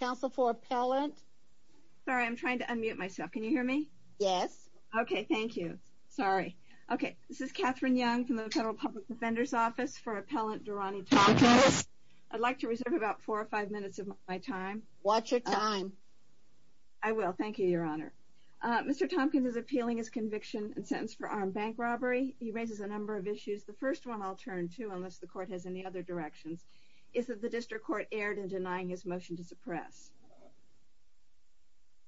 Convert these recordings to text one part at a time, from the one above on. Council for appellant. Sorry, I'm trying to unmute myself. Can you hear me? Yes. Okay. Thank you. Sorry. Okay This is Catherine Young from the Federal Public Defender's Office for appellant Daronnie Thompkins I'd like to reserve about four or five minutes of my time. Watch your time. I Will thank you your honor Mr. Tompkins is appealing his conviction and sentence for armed bank robbery. He raises a number of issues The first one I'll turn to unless the court has any other directions is that the district court erred in denying his motion to suppress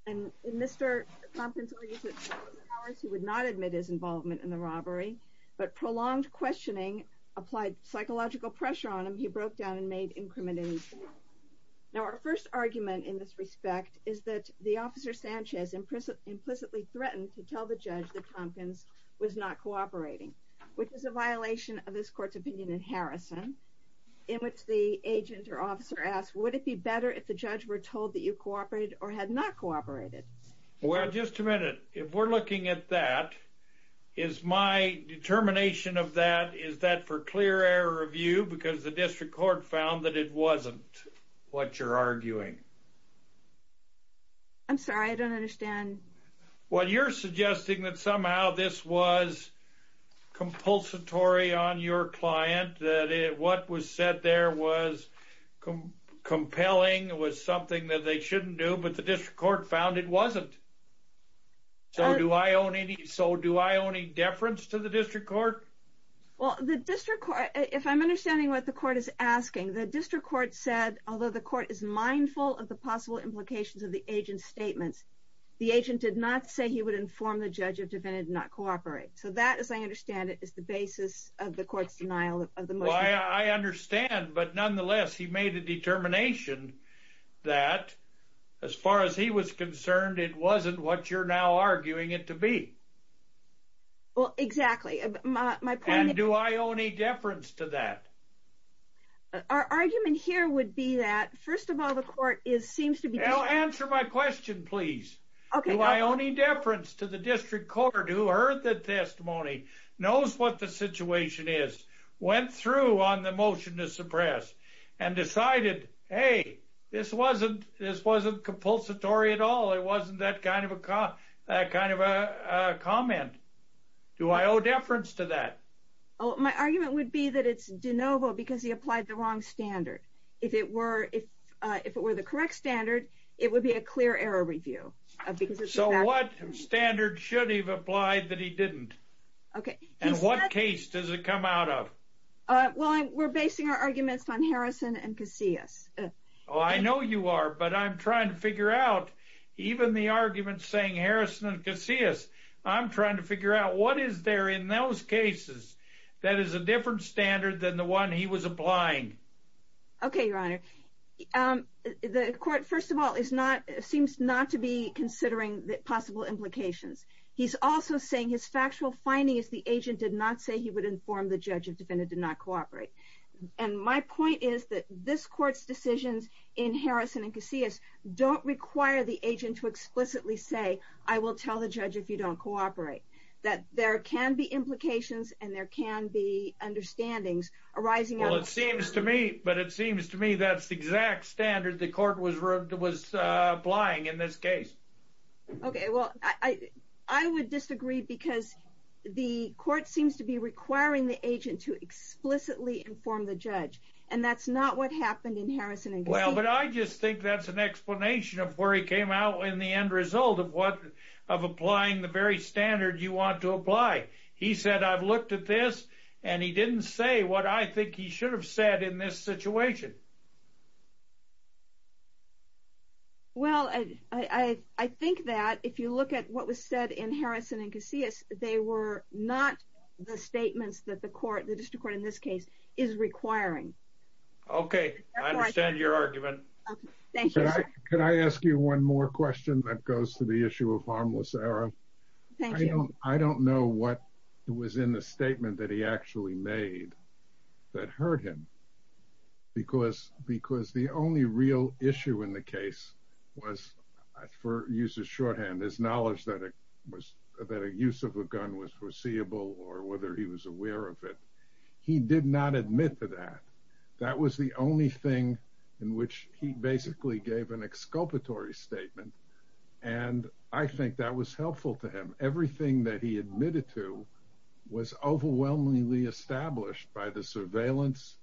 and Mr. Thompkins He would not admit his involvement in the robbery, but prolonged questioning applied psychological pressure on him He broke down and made incriminating Now our first argument in this respect is that the officer Sanchez implicitly threatened to tell the judge that Thompkins Was not cooperating which is a violation of this court's opinion in Harrison In which the agent or officer asked would it be better if the judge were told that you cooperated or had not cooperated Well, just a minute if we're looking at that is my Determination of that is that for clear error of you because the district court found that it wasn't what you're arguing I'm sorry. I don't understand what you're suggesting that somehow this was Compulsory on your client that it what was said there was Compelling it was something that they shouldn't do but the district court found it wasn't So do I own any so do I own any deference to the district court? Well the district court if I'm understanding what the court is asking the district court said although the court is mindful of the possible Implications of the agent's statements the agent did not say he would inform the judge of defendant not cooperate So that as I understand it is the basis of the court's denial of the why I understand, but nonetheless he made a determination That as far as he was concerned it wasn't what you're now arguing it to be Well exactly my plan do I own a deference to that? Our argument here would be that first of all the court is seems to be answer my question, please Okay, my only deference to the district court who heard that testimony knows what the situation is Went through on the motion to suppress and decided. Hey, this wasn't this wasn't compulsory at all It wasn't that kind of a cop that kind of a comment Do I owe deference to that? My argument would be that it's de novo because he applied the wrong standard if it were if if it were the correct standard It would be a clear error review So what standard should he've applied that he didn't okay? And what case does it come out of well, we're basing our arguments on Harrison and Casillas Oh, I know you are but I'm trying to figure out even the arguments saying Harrison and Casillas I'm trying to figure out what is there in those cases that is a different standard than the one he was applying Okay, your honor The court first of all is not seems not to be considering the possible implications He's also saying his factual finding is the agent did not say he would inform the judge if defendant did not cooperate And my point is that this court's decisions in Harrison and Casillas Don't require the agent to explicitly say I will tell the judge if you don't cooperate That there can be implications and there can be Misunderstandings arising well, it seems to me but it seems to me that's the exact standard the court was rubbed it was applying in this case okay, well, I I would disagree because the court seems to be requiring the agent to Explicitly inform the judge and that's not what happened in Harrison and well But I just think that's an explanation of where he came out in the end result of what of applying the very standard You want to apply he said I've looked at this and he didn't say what I think he should have said in this situation Well, I I think that if you look at what was said in Harrison and Casillas They were not the statements that the court the district court in this case is requiring Okay Can I ask you one more question that goes to the issue of harmless error I don't know what it was in the statement that he actually made That hurt him because because the only real issue in the case was For use of shorthand his knowledge that it was that a use of a gun was foreseeable or whether he was aware of it He did not admit to that. That was the only thing in which he basically gave an exculpatory statement and I think that was helpful to him everything that he admitted to was overwhelmingly established by the surveillance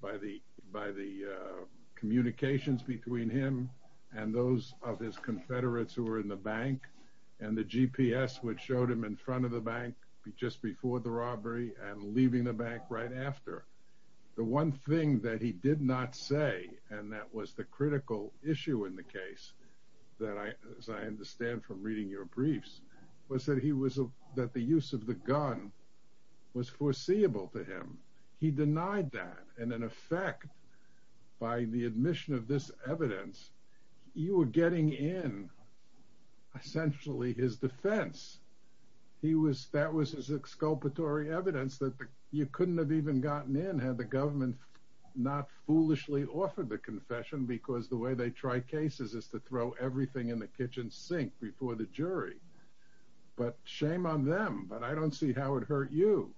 by the by the communications between him and those of his Confederates who were in the bank and the GPS which showed him in front of the bank Just before the robbery and leaving the bank right after The one thing that he did not say and that was the critical issue in the case That I understand from reading your briefs was that he was a that the use of the gun Was foreseeable to him. He denied that and in effect By the admission of this evidence You were getting in Essentially his defense He was that was his exculpatory evidence that you couldn't have even gotten in had the government Not foolishly offered the confession because the way they try cases is to throw everything in the kitchen sink before the jury But shame on them, but I don't see how it hurt you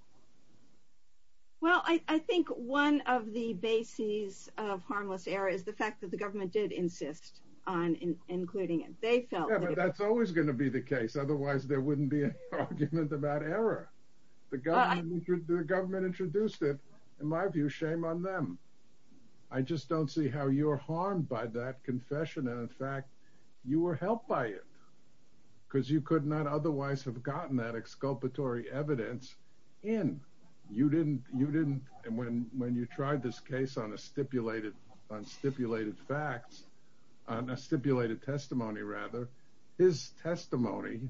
Well, I think one of the bases of harmless error is the fact that the government did insist on Including it. They felt that's always going to be the case. Otherwise, there wouldn't be a Argument about error the guy the government introduced it in my view shame on them. I Just don't see how you are harmed by that confession. And in fact you were helped by it because you could not otherwise have gotten that exculpatory evidence in You didn't you didn't and when when you tried this case on a stipulated on stipulated facts I'm a stipulated testimony rather his Testimony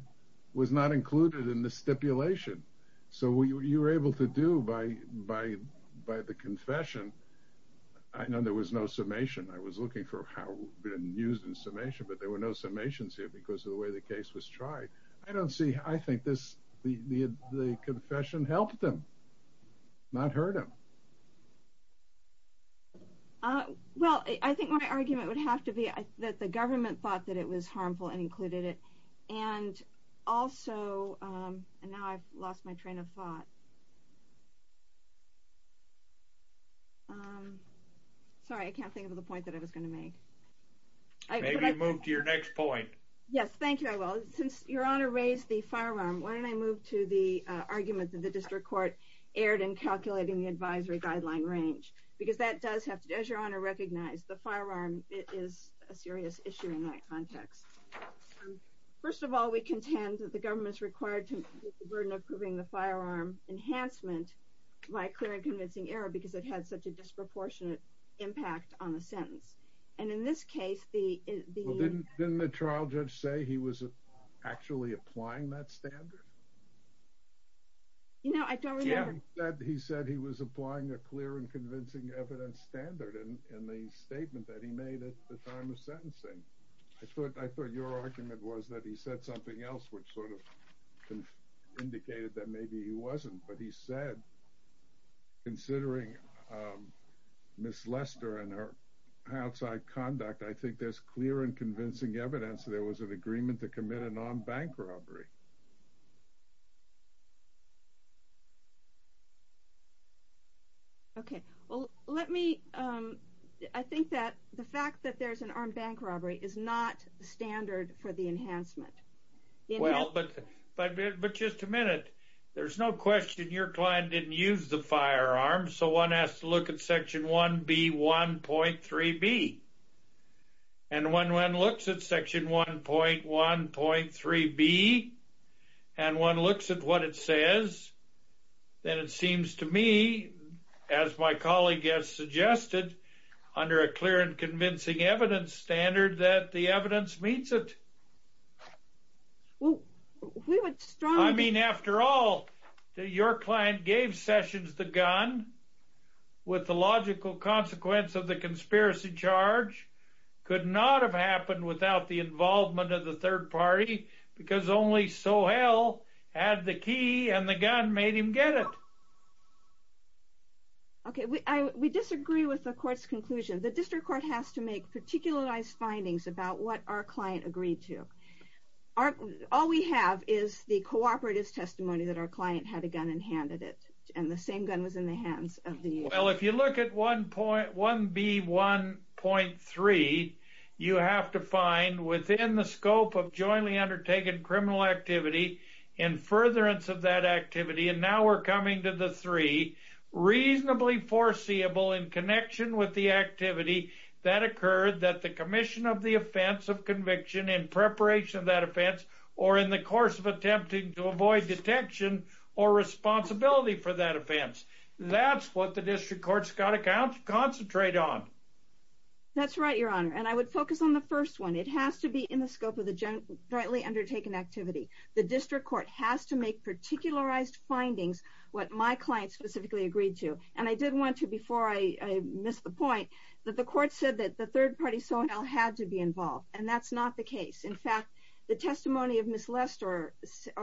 was not included in the stipulation. So we were able to do by by by the confession I Know there was no summation I was looking for how been used in summation, but there were no summations here because of the way the case was tried I don't see. I think this the confession helped them Not hurt him Well, I think my argument would have to be that the government thought that it was harmful and included it and also And now I've lost my train of thought Sorry, I can't think of the point that I was going to make Maybe move to your next point. Yes. Thank you I will since your honor raised the firearm when I moved to the Argument that the district court aired and calculating the advisory guideline range Because that does have to do as your honor recognized the firearm. It is a serious issue in my context First of all, we contend that the government's required to burden approving the firearm Enhancement my clear and convincing error because it has such a disproportionate Impact on the sentence and in this case the the trial judge say he was actually applying that standard You know, I don't yeah He said he was applying a clear and convincing evidence standard and in the statement that he made at the time of sentencing I thought I thought your argument was that he said something else which sort of Indicated that maybe he wasn't but he said Considering Miss Lester and her Outside conduct. I think there's clear and convincing evidence. There was an agreement to commit an armed bank robbery Okay, well, let me I think that the fact that there's an armed bank robbery is not the standard for the enhancement Well, but but but just a minute. There's no question your client didn't use the firearm So one has to look at section 1 B 1.3 B and when one looks at section 1.1 point 3 B And one looks at what it says Then it seems to me as my colleague has suggested Under a clear and convincing evidence standard that the evidence meets it Well, I mean after all your client gave sessions the gun with the logical consequence of the conspiracy charge Could not have happened without the involvement of the third party because only so hell Had the key and the gun made him get it Okay, we disagree with the court's conclusion the district court has to make particularized findings about what our client agreed to Our all we have is the cooperatives testimony that our client had a gun and handed it And the same gun was in the hands of the well, if you look at one point one B 1.3 you have to find within the scope of jointly undertaken criminal activity in Furtherance of that activity and now we're coming to the three reasonably foreseeable in connection with the activity that occurred that the Commission of the offense of conviction in preparation of that offense or in the course of attempting to avoid detection or Responsibility for that offense. That's what the district courts got accounts concentrate on That's right, Your Honor, and I would focus on the first one It has to be in the scope of the generally undertaken activity the district court has to make particularized findings what my client specifically agreed to and I didn't want to before I Missed the point that the court said that the third party so now had to be involved and that's not the case In fact the testimony of Miss Lester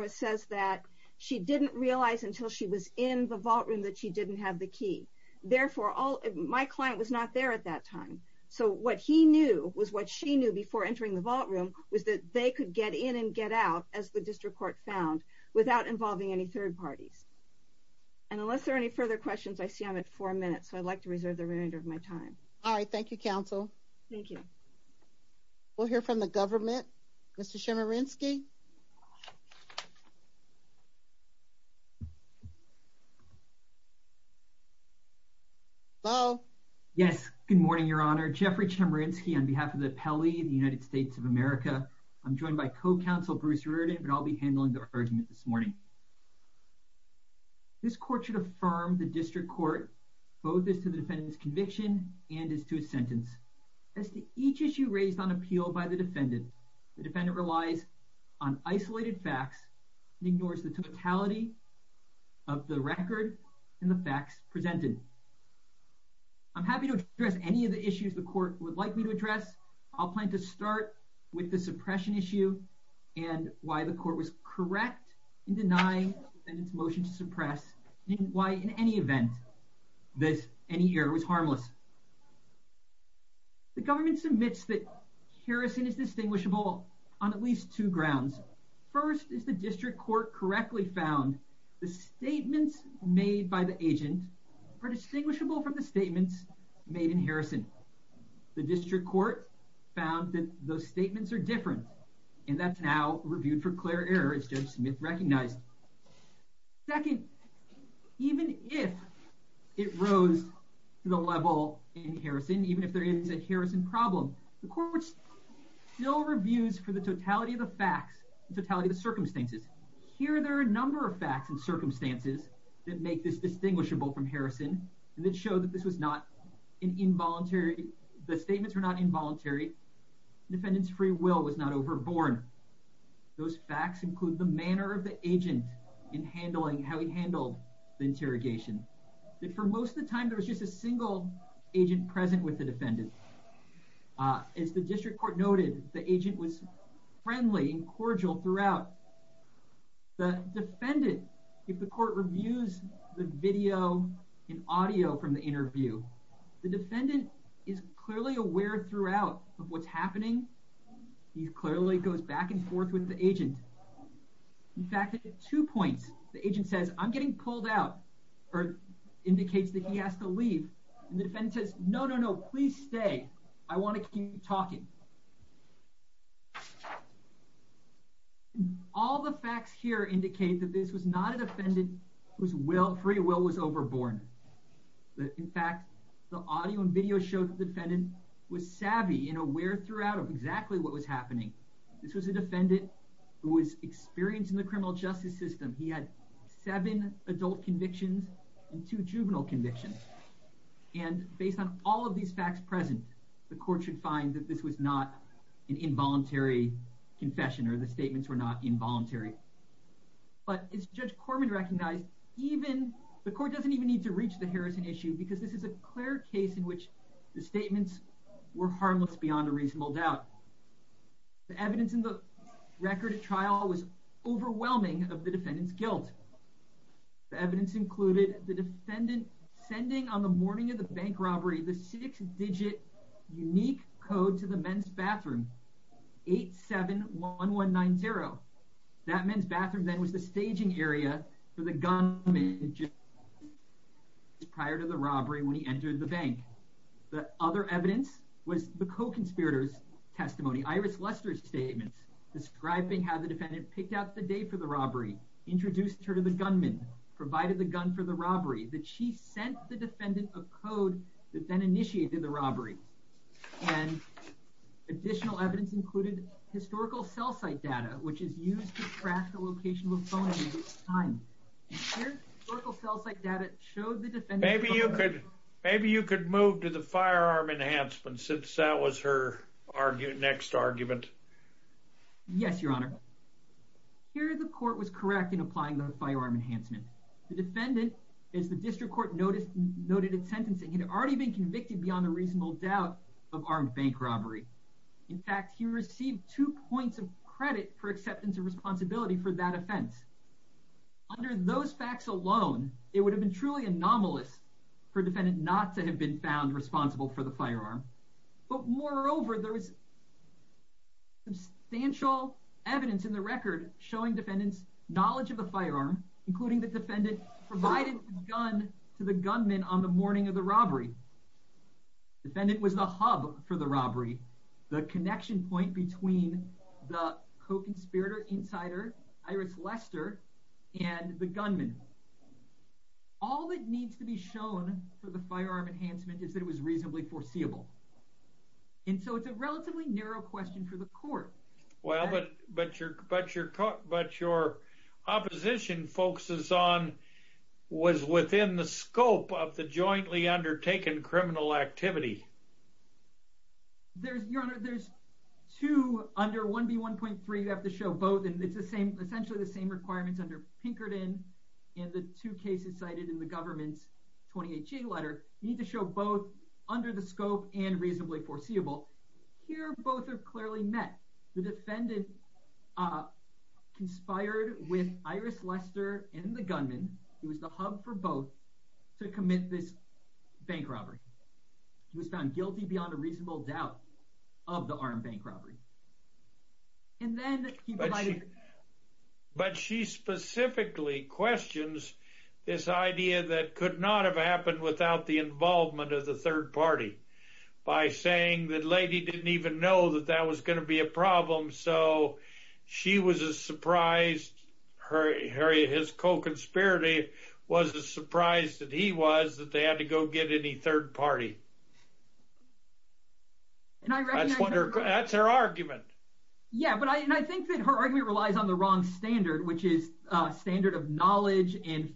Says that she didn't realize until she was in the vault room that she didn't have the key Therefore all my client was not there at that time So what he knew was what she knew before entering the vault room was that they could get in and get out as the district court found without involving any third parties and Unless there are any further questions. I see I'm at four minutes. So I'd like to reserve the remainder of my time All right. Thank you counsel. Thank you We'll hear from the government. Mr. Shimmer in ski Oh Yes, good morning, Your Honor. Jeffrey Chemerinsky on behalf of the Pele in the United States of America I'm joined by co-counsel Bruce Reardon, but I'll be handling the argument this morning This court should affirm the district court Both is to the defendant's conviction and is to a sentence as to each issue raised on appeal by the defendant the defendant relies on isolated facts and ignores the totality of Record and the facts presented I'm happy to address any of the issues. The court would like me to address I'll plan to start with the suppression issue and Why the court was correct in denying and its motion to suppress and why in any event? This any year was harmless The government submits that Harrison is distinguishable on at least two grounds First is the district court correctly found the statements made by the agent Are distinguishable from the statements made in Harrison? The district court found that those statements are different and that's now reviewed for clear error. It's just myth recognized second even if It rose to the level in Harrison, even if there is a Harrison problem the courts Still reviews for the totality of the facts the totality of the circumstances here There are a number of facts and circumstances that make this distinguishable from Harrison and it showed that this was not an involuntary The statements were not involuntary Defendants free will was not overborne Those facts include the manner of the agent in handling how he handled the interrogation That for most of the time there was just a single agent present with the defendant As the district court noted the agent was friendly and cordial throughout The defendant if the court reviews the video and audio from the interview The defendant is clearly aware throughout of what's happening He clearly goes back and forth with the agent in fact at two points the agent says I'm getting pulled out or No, no, no, please stay I want to keep talking All the facts here indicate that this was not a defendant whose will free will was overborne But in fact the audio and video showed the defendant was savvy and aware throughout of exactly what was happening This was a defendant who was experienced in the criminal justice system He had seven adult convictions and two juvenile convictions And based on all of these facts present the court should find that this was not an involuntary Confession or the statements were not involuntary But it's judge Corman recognized Even the court doesn't even need to reach the Harrison issue because this is a clear case in which the statements were harmless beyond a reasonable doubt the evidence in the record at trial was Overwhelming of the defendants guilt The evidence included the defendant sending on the morning of the bank robbery the six-digit unique code to the men's bathroom 8 7 1 1 9 0 that men's bathroom then was the staging area for the gun Prior to the robbery when he entered the bank the other evidence was the co-conspirators Testimony Iris Lester's statements describing how the defendant picked out the day for the robbery Introduced her to the gunman provided the gun for the robbery that she sent the defendant a code that then initiated the robbery and Additional evidence included historical cell site data, which is used to track the location Maybe you could maybe you could move to the firearm enhancement since that was her argument next argument Yes, your honor Here the court was correct in applying the firearm enhancement. The defendant is the district court noticed noted in sentencing He'd already been convicted beyond a reasonable doubt of armed bank robbery In fact, he received two points of credit for acceptance of responsibility for that offense Under those facts alone, it would have been truly anomalous for defendant not to have been found responsible for the firearm but moreover there was Substantial evidence in the record showing defendants knowledge of the firearm including the defendant Provided gun to the gunman on the morning of the robbery defendant was the hub for the robbery the connection point between The co-conspirator insider Iris Lester and the gunman All that needs to be shown for the firearm enhancement is that it was reasonably foreseeable And so it's a relatively narrow question for the court. Well, but but you're but you're caught but your opposition focuses on Was within the scope of the jointly undertaken criminal activity There's your honor, there's two under 1b 1.3 You have to show both and it's the same essentially the same requirements under Pinkerton and the two cases cited in the government's 28g letter you need to show both under the scope and reasonably foreseeable Here both are clearly met the defendant Conspired with Iris Lester and the gunman. It was the hub for both to commit this bank robbery He was found guilty beyond a reasonable doubt of the armed bank robbery and then But she Specifically questions this idea that could not have happened without the involvement of the third party By saying that lady didn't even know that that was going to be a problem. So She was as surprised Her area his co-conspirator was a surprise that he was that they had to go get any third party And I wonder that's her argument yeah, but I and I think that her argument relies on the wrong standard, which is a standard of knowledge and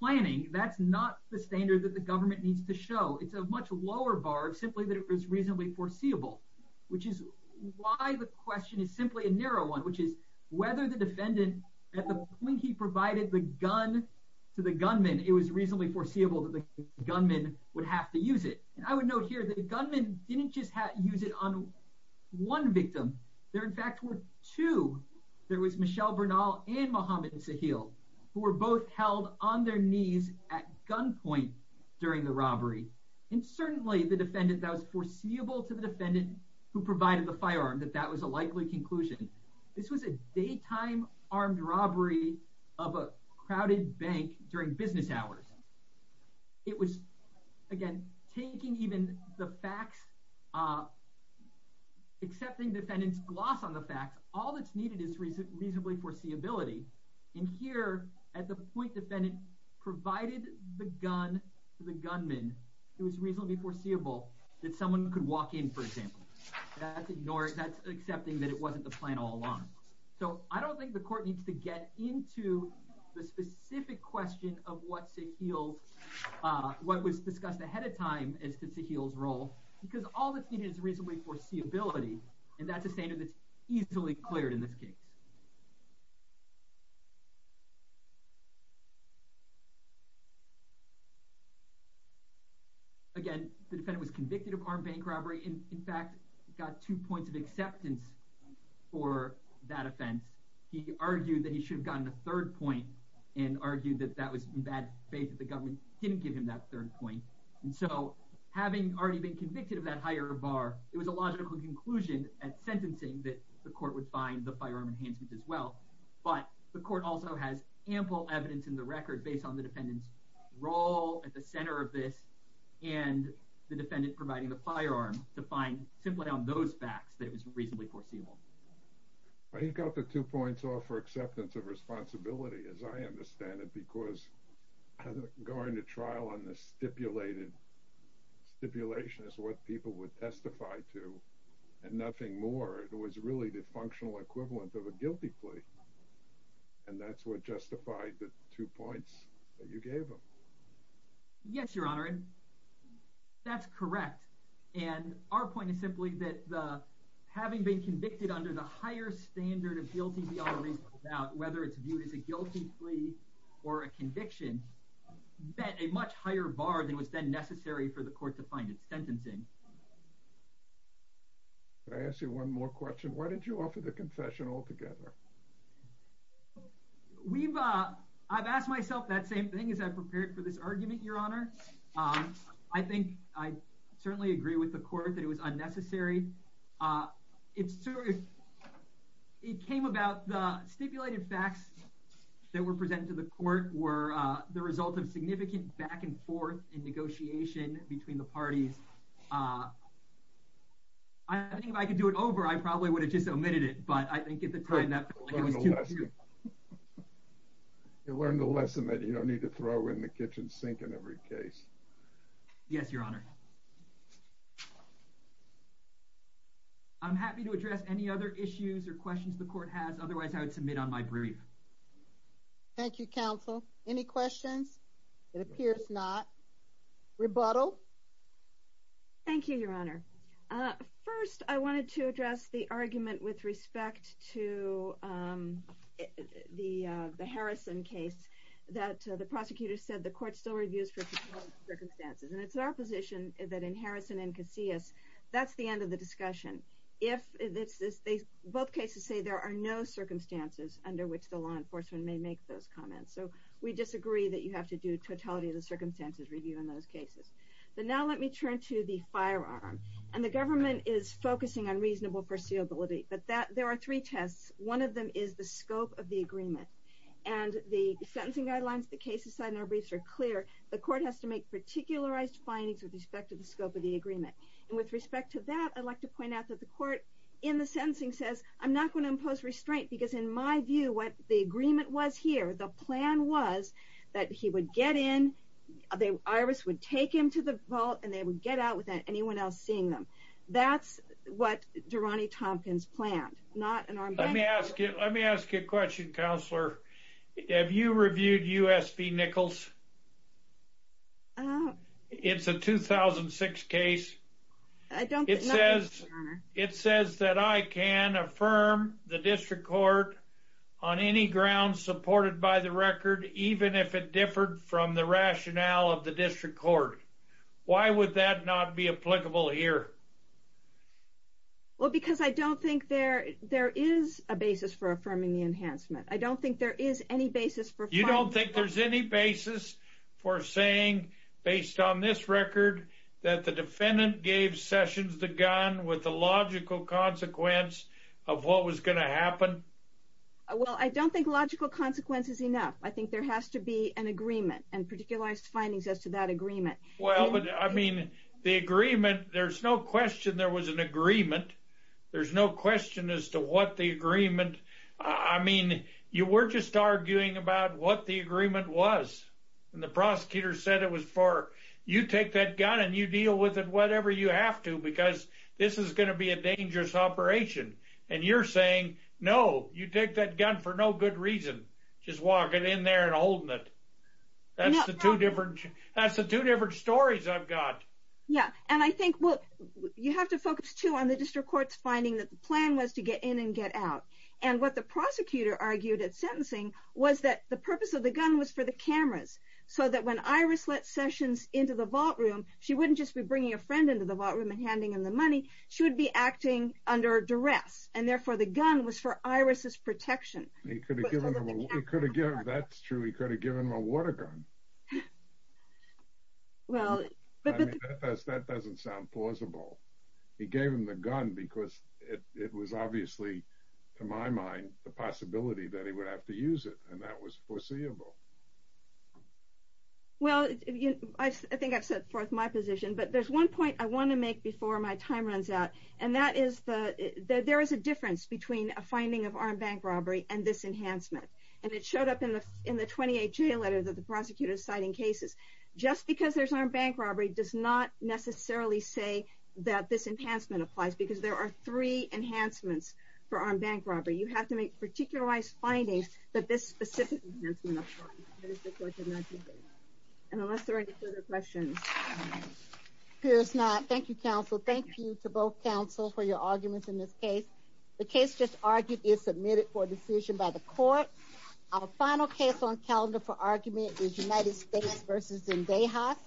Planning that's not the standard that the government needs to show. It's a much lower bar simply that it was reasonably foreseeable Which is why the question is simply a narrow one Which is whether the defendant at the point he provided the gun to the gunman It was reasonably foreseeable that the gunman would have to use it and I would note here that the gunman didn't just have to use it on One victim there in fact were two There was Michelle Bernal and Mohammed Sahil who were both held on their knees at gunpoint During the robbery and certainly the defendant that was foreseeable to the defendant who provided the firearm that that was a likely conclusion This was a daytime armed robbery of a crowded bank during business hours It was again taking even the facts Accepting defendants gloss on the facts all that's needed is reason reasonably foreseeability in here at the point defendant Provided the gun to the gunman. It was reasonably foreseeable that someone could walk in for example Ignores that's accepting that it wasn't the plan all along. So I don't think the court needs to get into the specific question of what's it feels What was discussed ahead of time as to Sahil's role because all that's needed is reasonably foreseeability And that's a standard that's easily cleared in this case Again the defendant was convicted of armed bank robbery and in fact got two points of acceptance for That offense he argued that he should have gotten a third point and Argued that that was bad faith that the government didn't give him that third point And so having already been convicted of that higher bar It was a logical conclusion at sentencing that the court would find the firearm enhancement as well But the court also has ample evidence in the record based on the fact that the gunman had already been convicted Role at the center of this and The defendant providing the firearm to find simply on those facts that it was reasonably foreseeable But he got the two points off for acceptance of responsibility as I understand it because I'm going to trial on this stipulated Stipulation is what people would testify to and nothing more. It was really the functional equivalent of a guilty plea and You gave them Yes, your honor That's correct. And our point is simply that Having been convicted under the higher standard of guilty About whether it's viewed as a guilty plea or a conviction Bet a much higher bar than was then necessary for the court to find its sentencing I asked you one more question. Why did you offer the confession altogether? We've uh, I've asked myself that same thing is that prepared for this argument your honor Um, I think I certainly agree with the court that it was unnecessary it's It came about the stipulated facts That were presented to the court were the result of significant back-and-forth in negotiation between the parties I Get the time You learn the lesson that you don't need to throw in the kitchen sink in every case yes, your honor I'm happy to address any other issues or questions. The court has otherwise I would submit on my brief Thank you counsel any questions. It appears not rebuttal Thank you, your honor First I wanted to address the argument with respect to The the Harrison case that the prosecutor said the court still reviews for Circumstances and it's our position that in Harrison and Casillas That's the end of the discussion if this is they both cases say there are no Circumstances under which the law enforcement may make those comments So we disagree that you have to do totality of the circumstances review in those cases But now let me turn to the firearm and the government is focusing on reasonable foreseeability but that there are three tests one of them is the scope of the agreement and The sentencing guidelines the cases side in our briefs are clear the court has to make Particularized findings with respect to the scope of the agreement and with respect to that I'd like to point out that the court in the sentencing says I'm not going to impose restraint because in my view what the agreement Was here the plan was that he would get in The iris would take him to the vault and they would get out without anyone else seeing them That's what Durrani Tompkins planned not an arm. Let me ask you. Let me ask you a question counselor Have you reviewed USB Nichols? It's a 2006 case I don't it says it says that I can affirm the district court on If it differed from the rationale of the district court, why would that not be applicable here? Well, because I don't think there there is a basis for affirming the enhancement I don't think there is any basis for you don't think there's any basis for saying Based on this record that the defendant gave sessions the gun with the logical consequence of what was going to happen Well, I don't think logical consequences enough I think there has to be an agreement and particularized findings as to that agreement Well, but I mean the agreement there's no question. There was an agreement There's no question as to what the agreement I mean you were just arguing about what the agreement was And the prosecutor said it was for you take that gun and you deal with it Whatever you have to because this is going to be a dangerous operation and you're saying no You take that gun for no good reason just walk it in there and holding it That's the two different. That's the two different stories. I've got yeah and I think what you have to focus to on the district courts finding that the plan was to get in and get out and What the prosecutor argued at sentencing was that the purpose of the gun was for the cameras? So that when Iris let sessions into the vault room She wouldn't just be bringing a friend into the vault room and handing in the money She would be acting under duress and therefore the gun was for Iris's protection That's true, he could have given him a water gun Well That doesn't sound plausible He gave him the gun because it was obviously to my mind the possibility that he would have to use it and that was foreseeable Well, I think I've set forth my position but there's one point I want to make before my time runs out and that is that there is a difference between a finding of armed bank robbery and This enhancement and it showed up in the in the 28 jail letters of the prosecutor's citing cases Just because there's armed bank robbery does not necessarily say that this enhancement applies because there are three Enhancements for armed bank robbery. You have to make particularized findings that this specific Questions Here's not Thank You counsel Thank you to both counsel for your arguments in this case The case just argued is submitted for decision by the court Our final case on calendar for argument is United States versus in day hot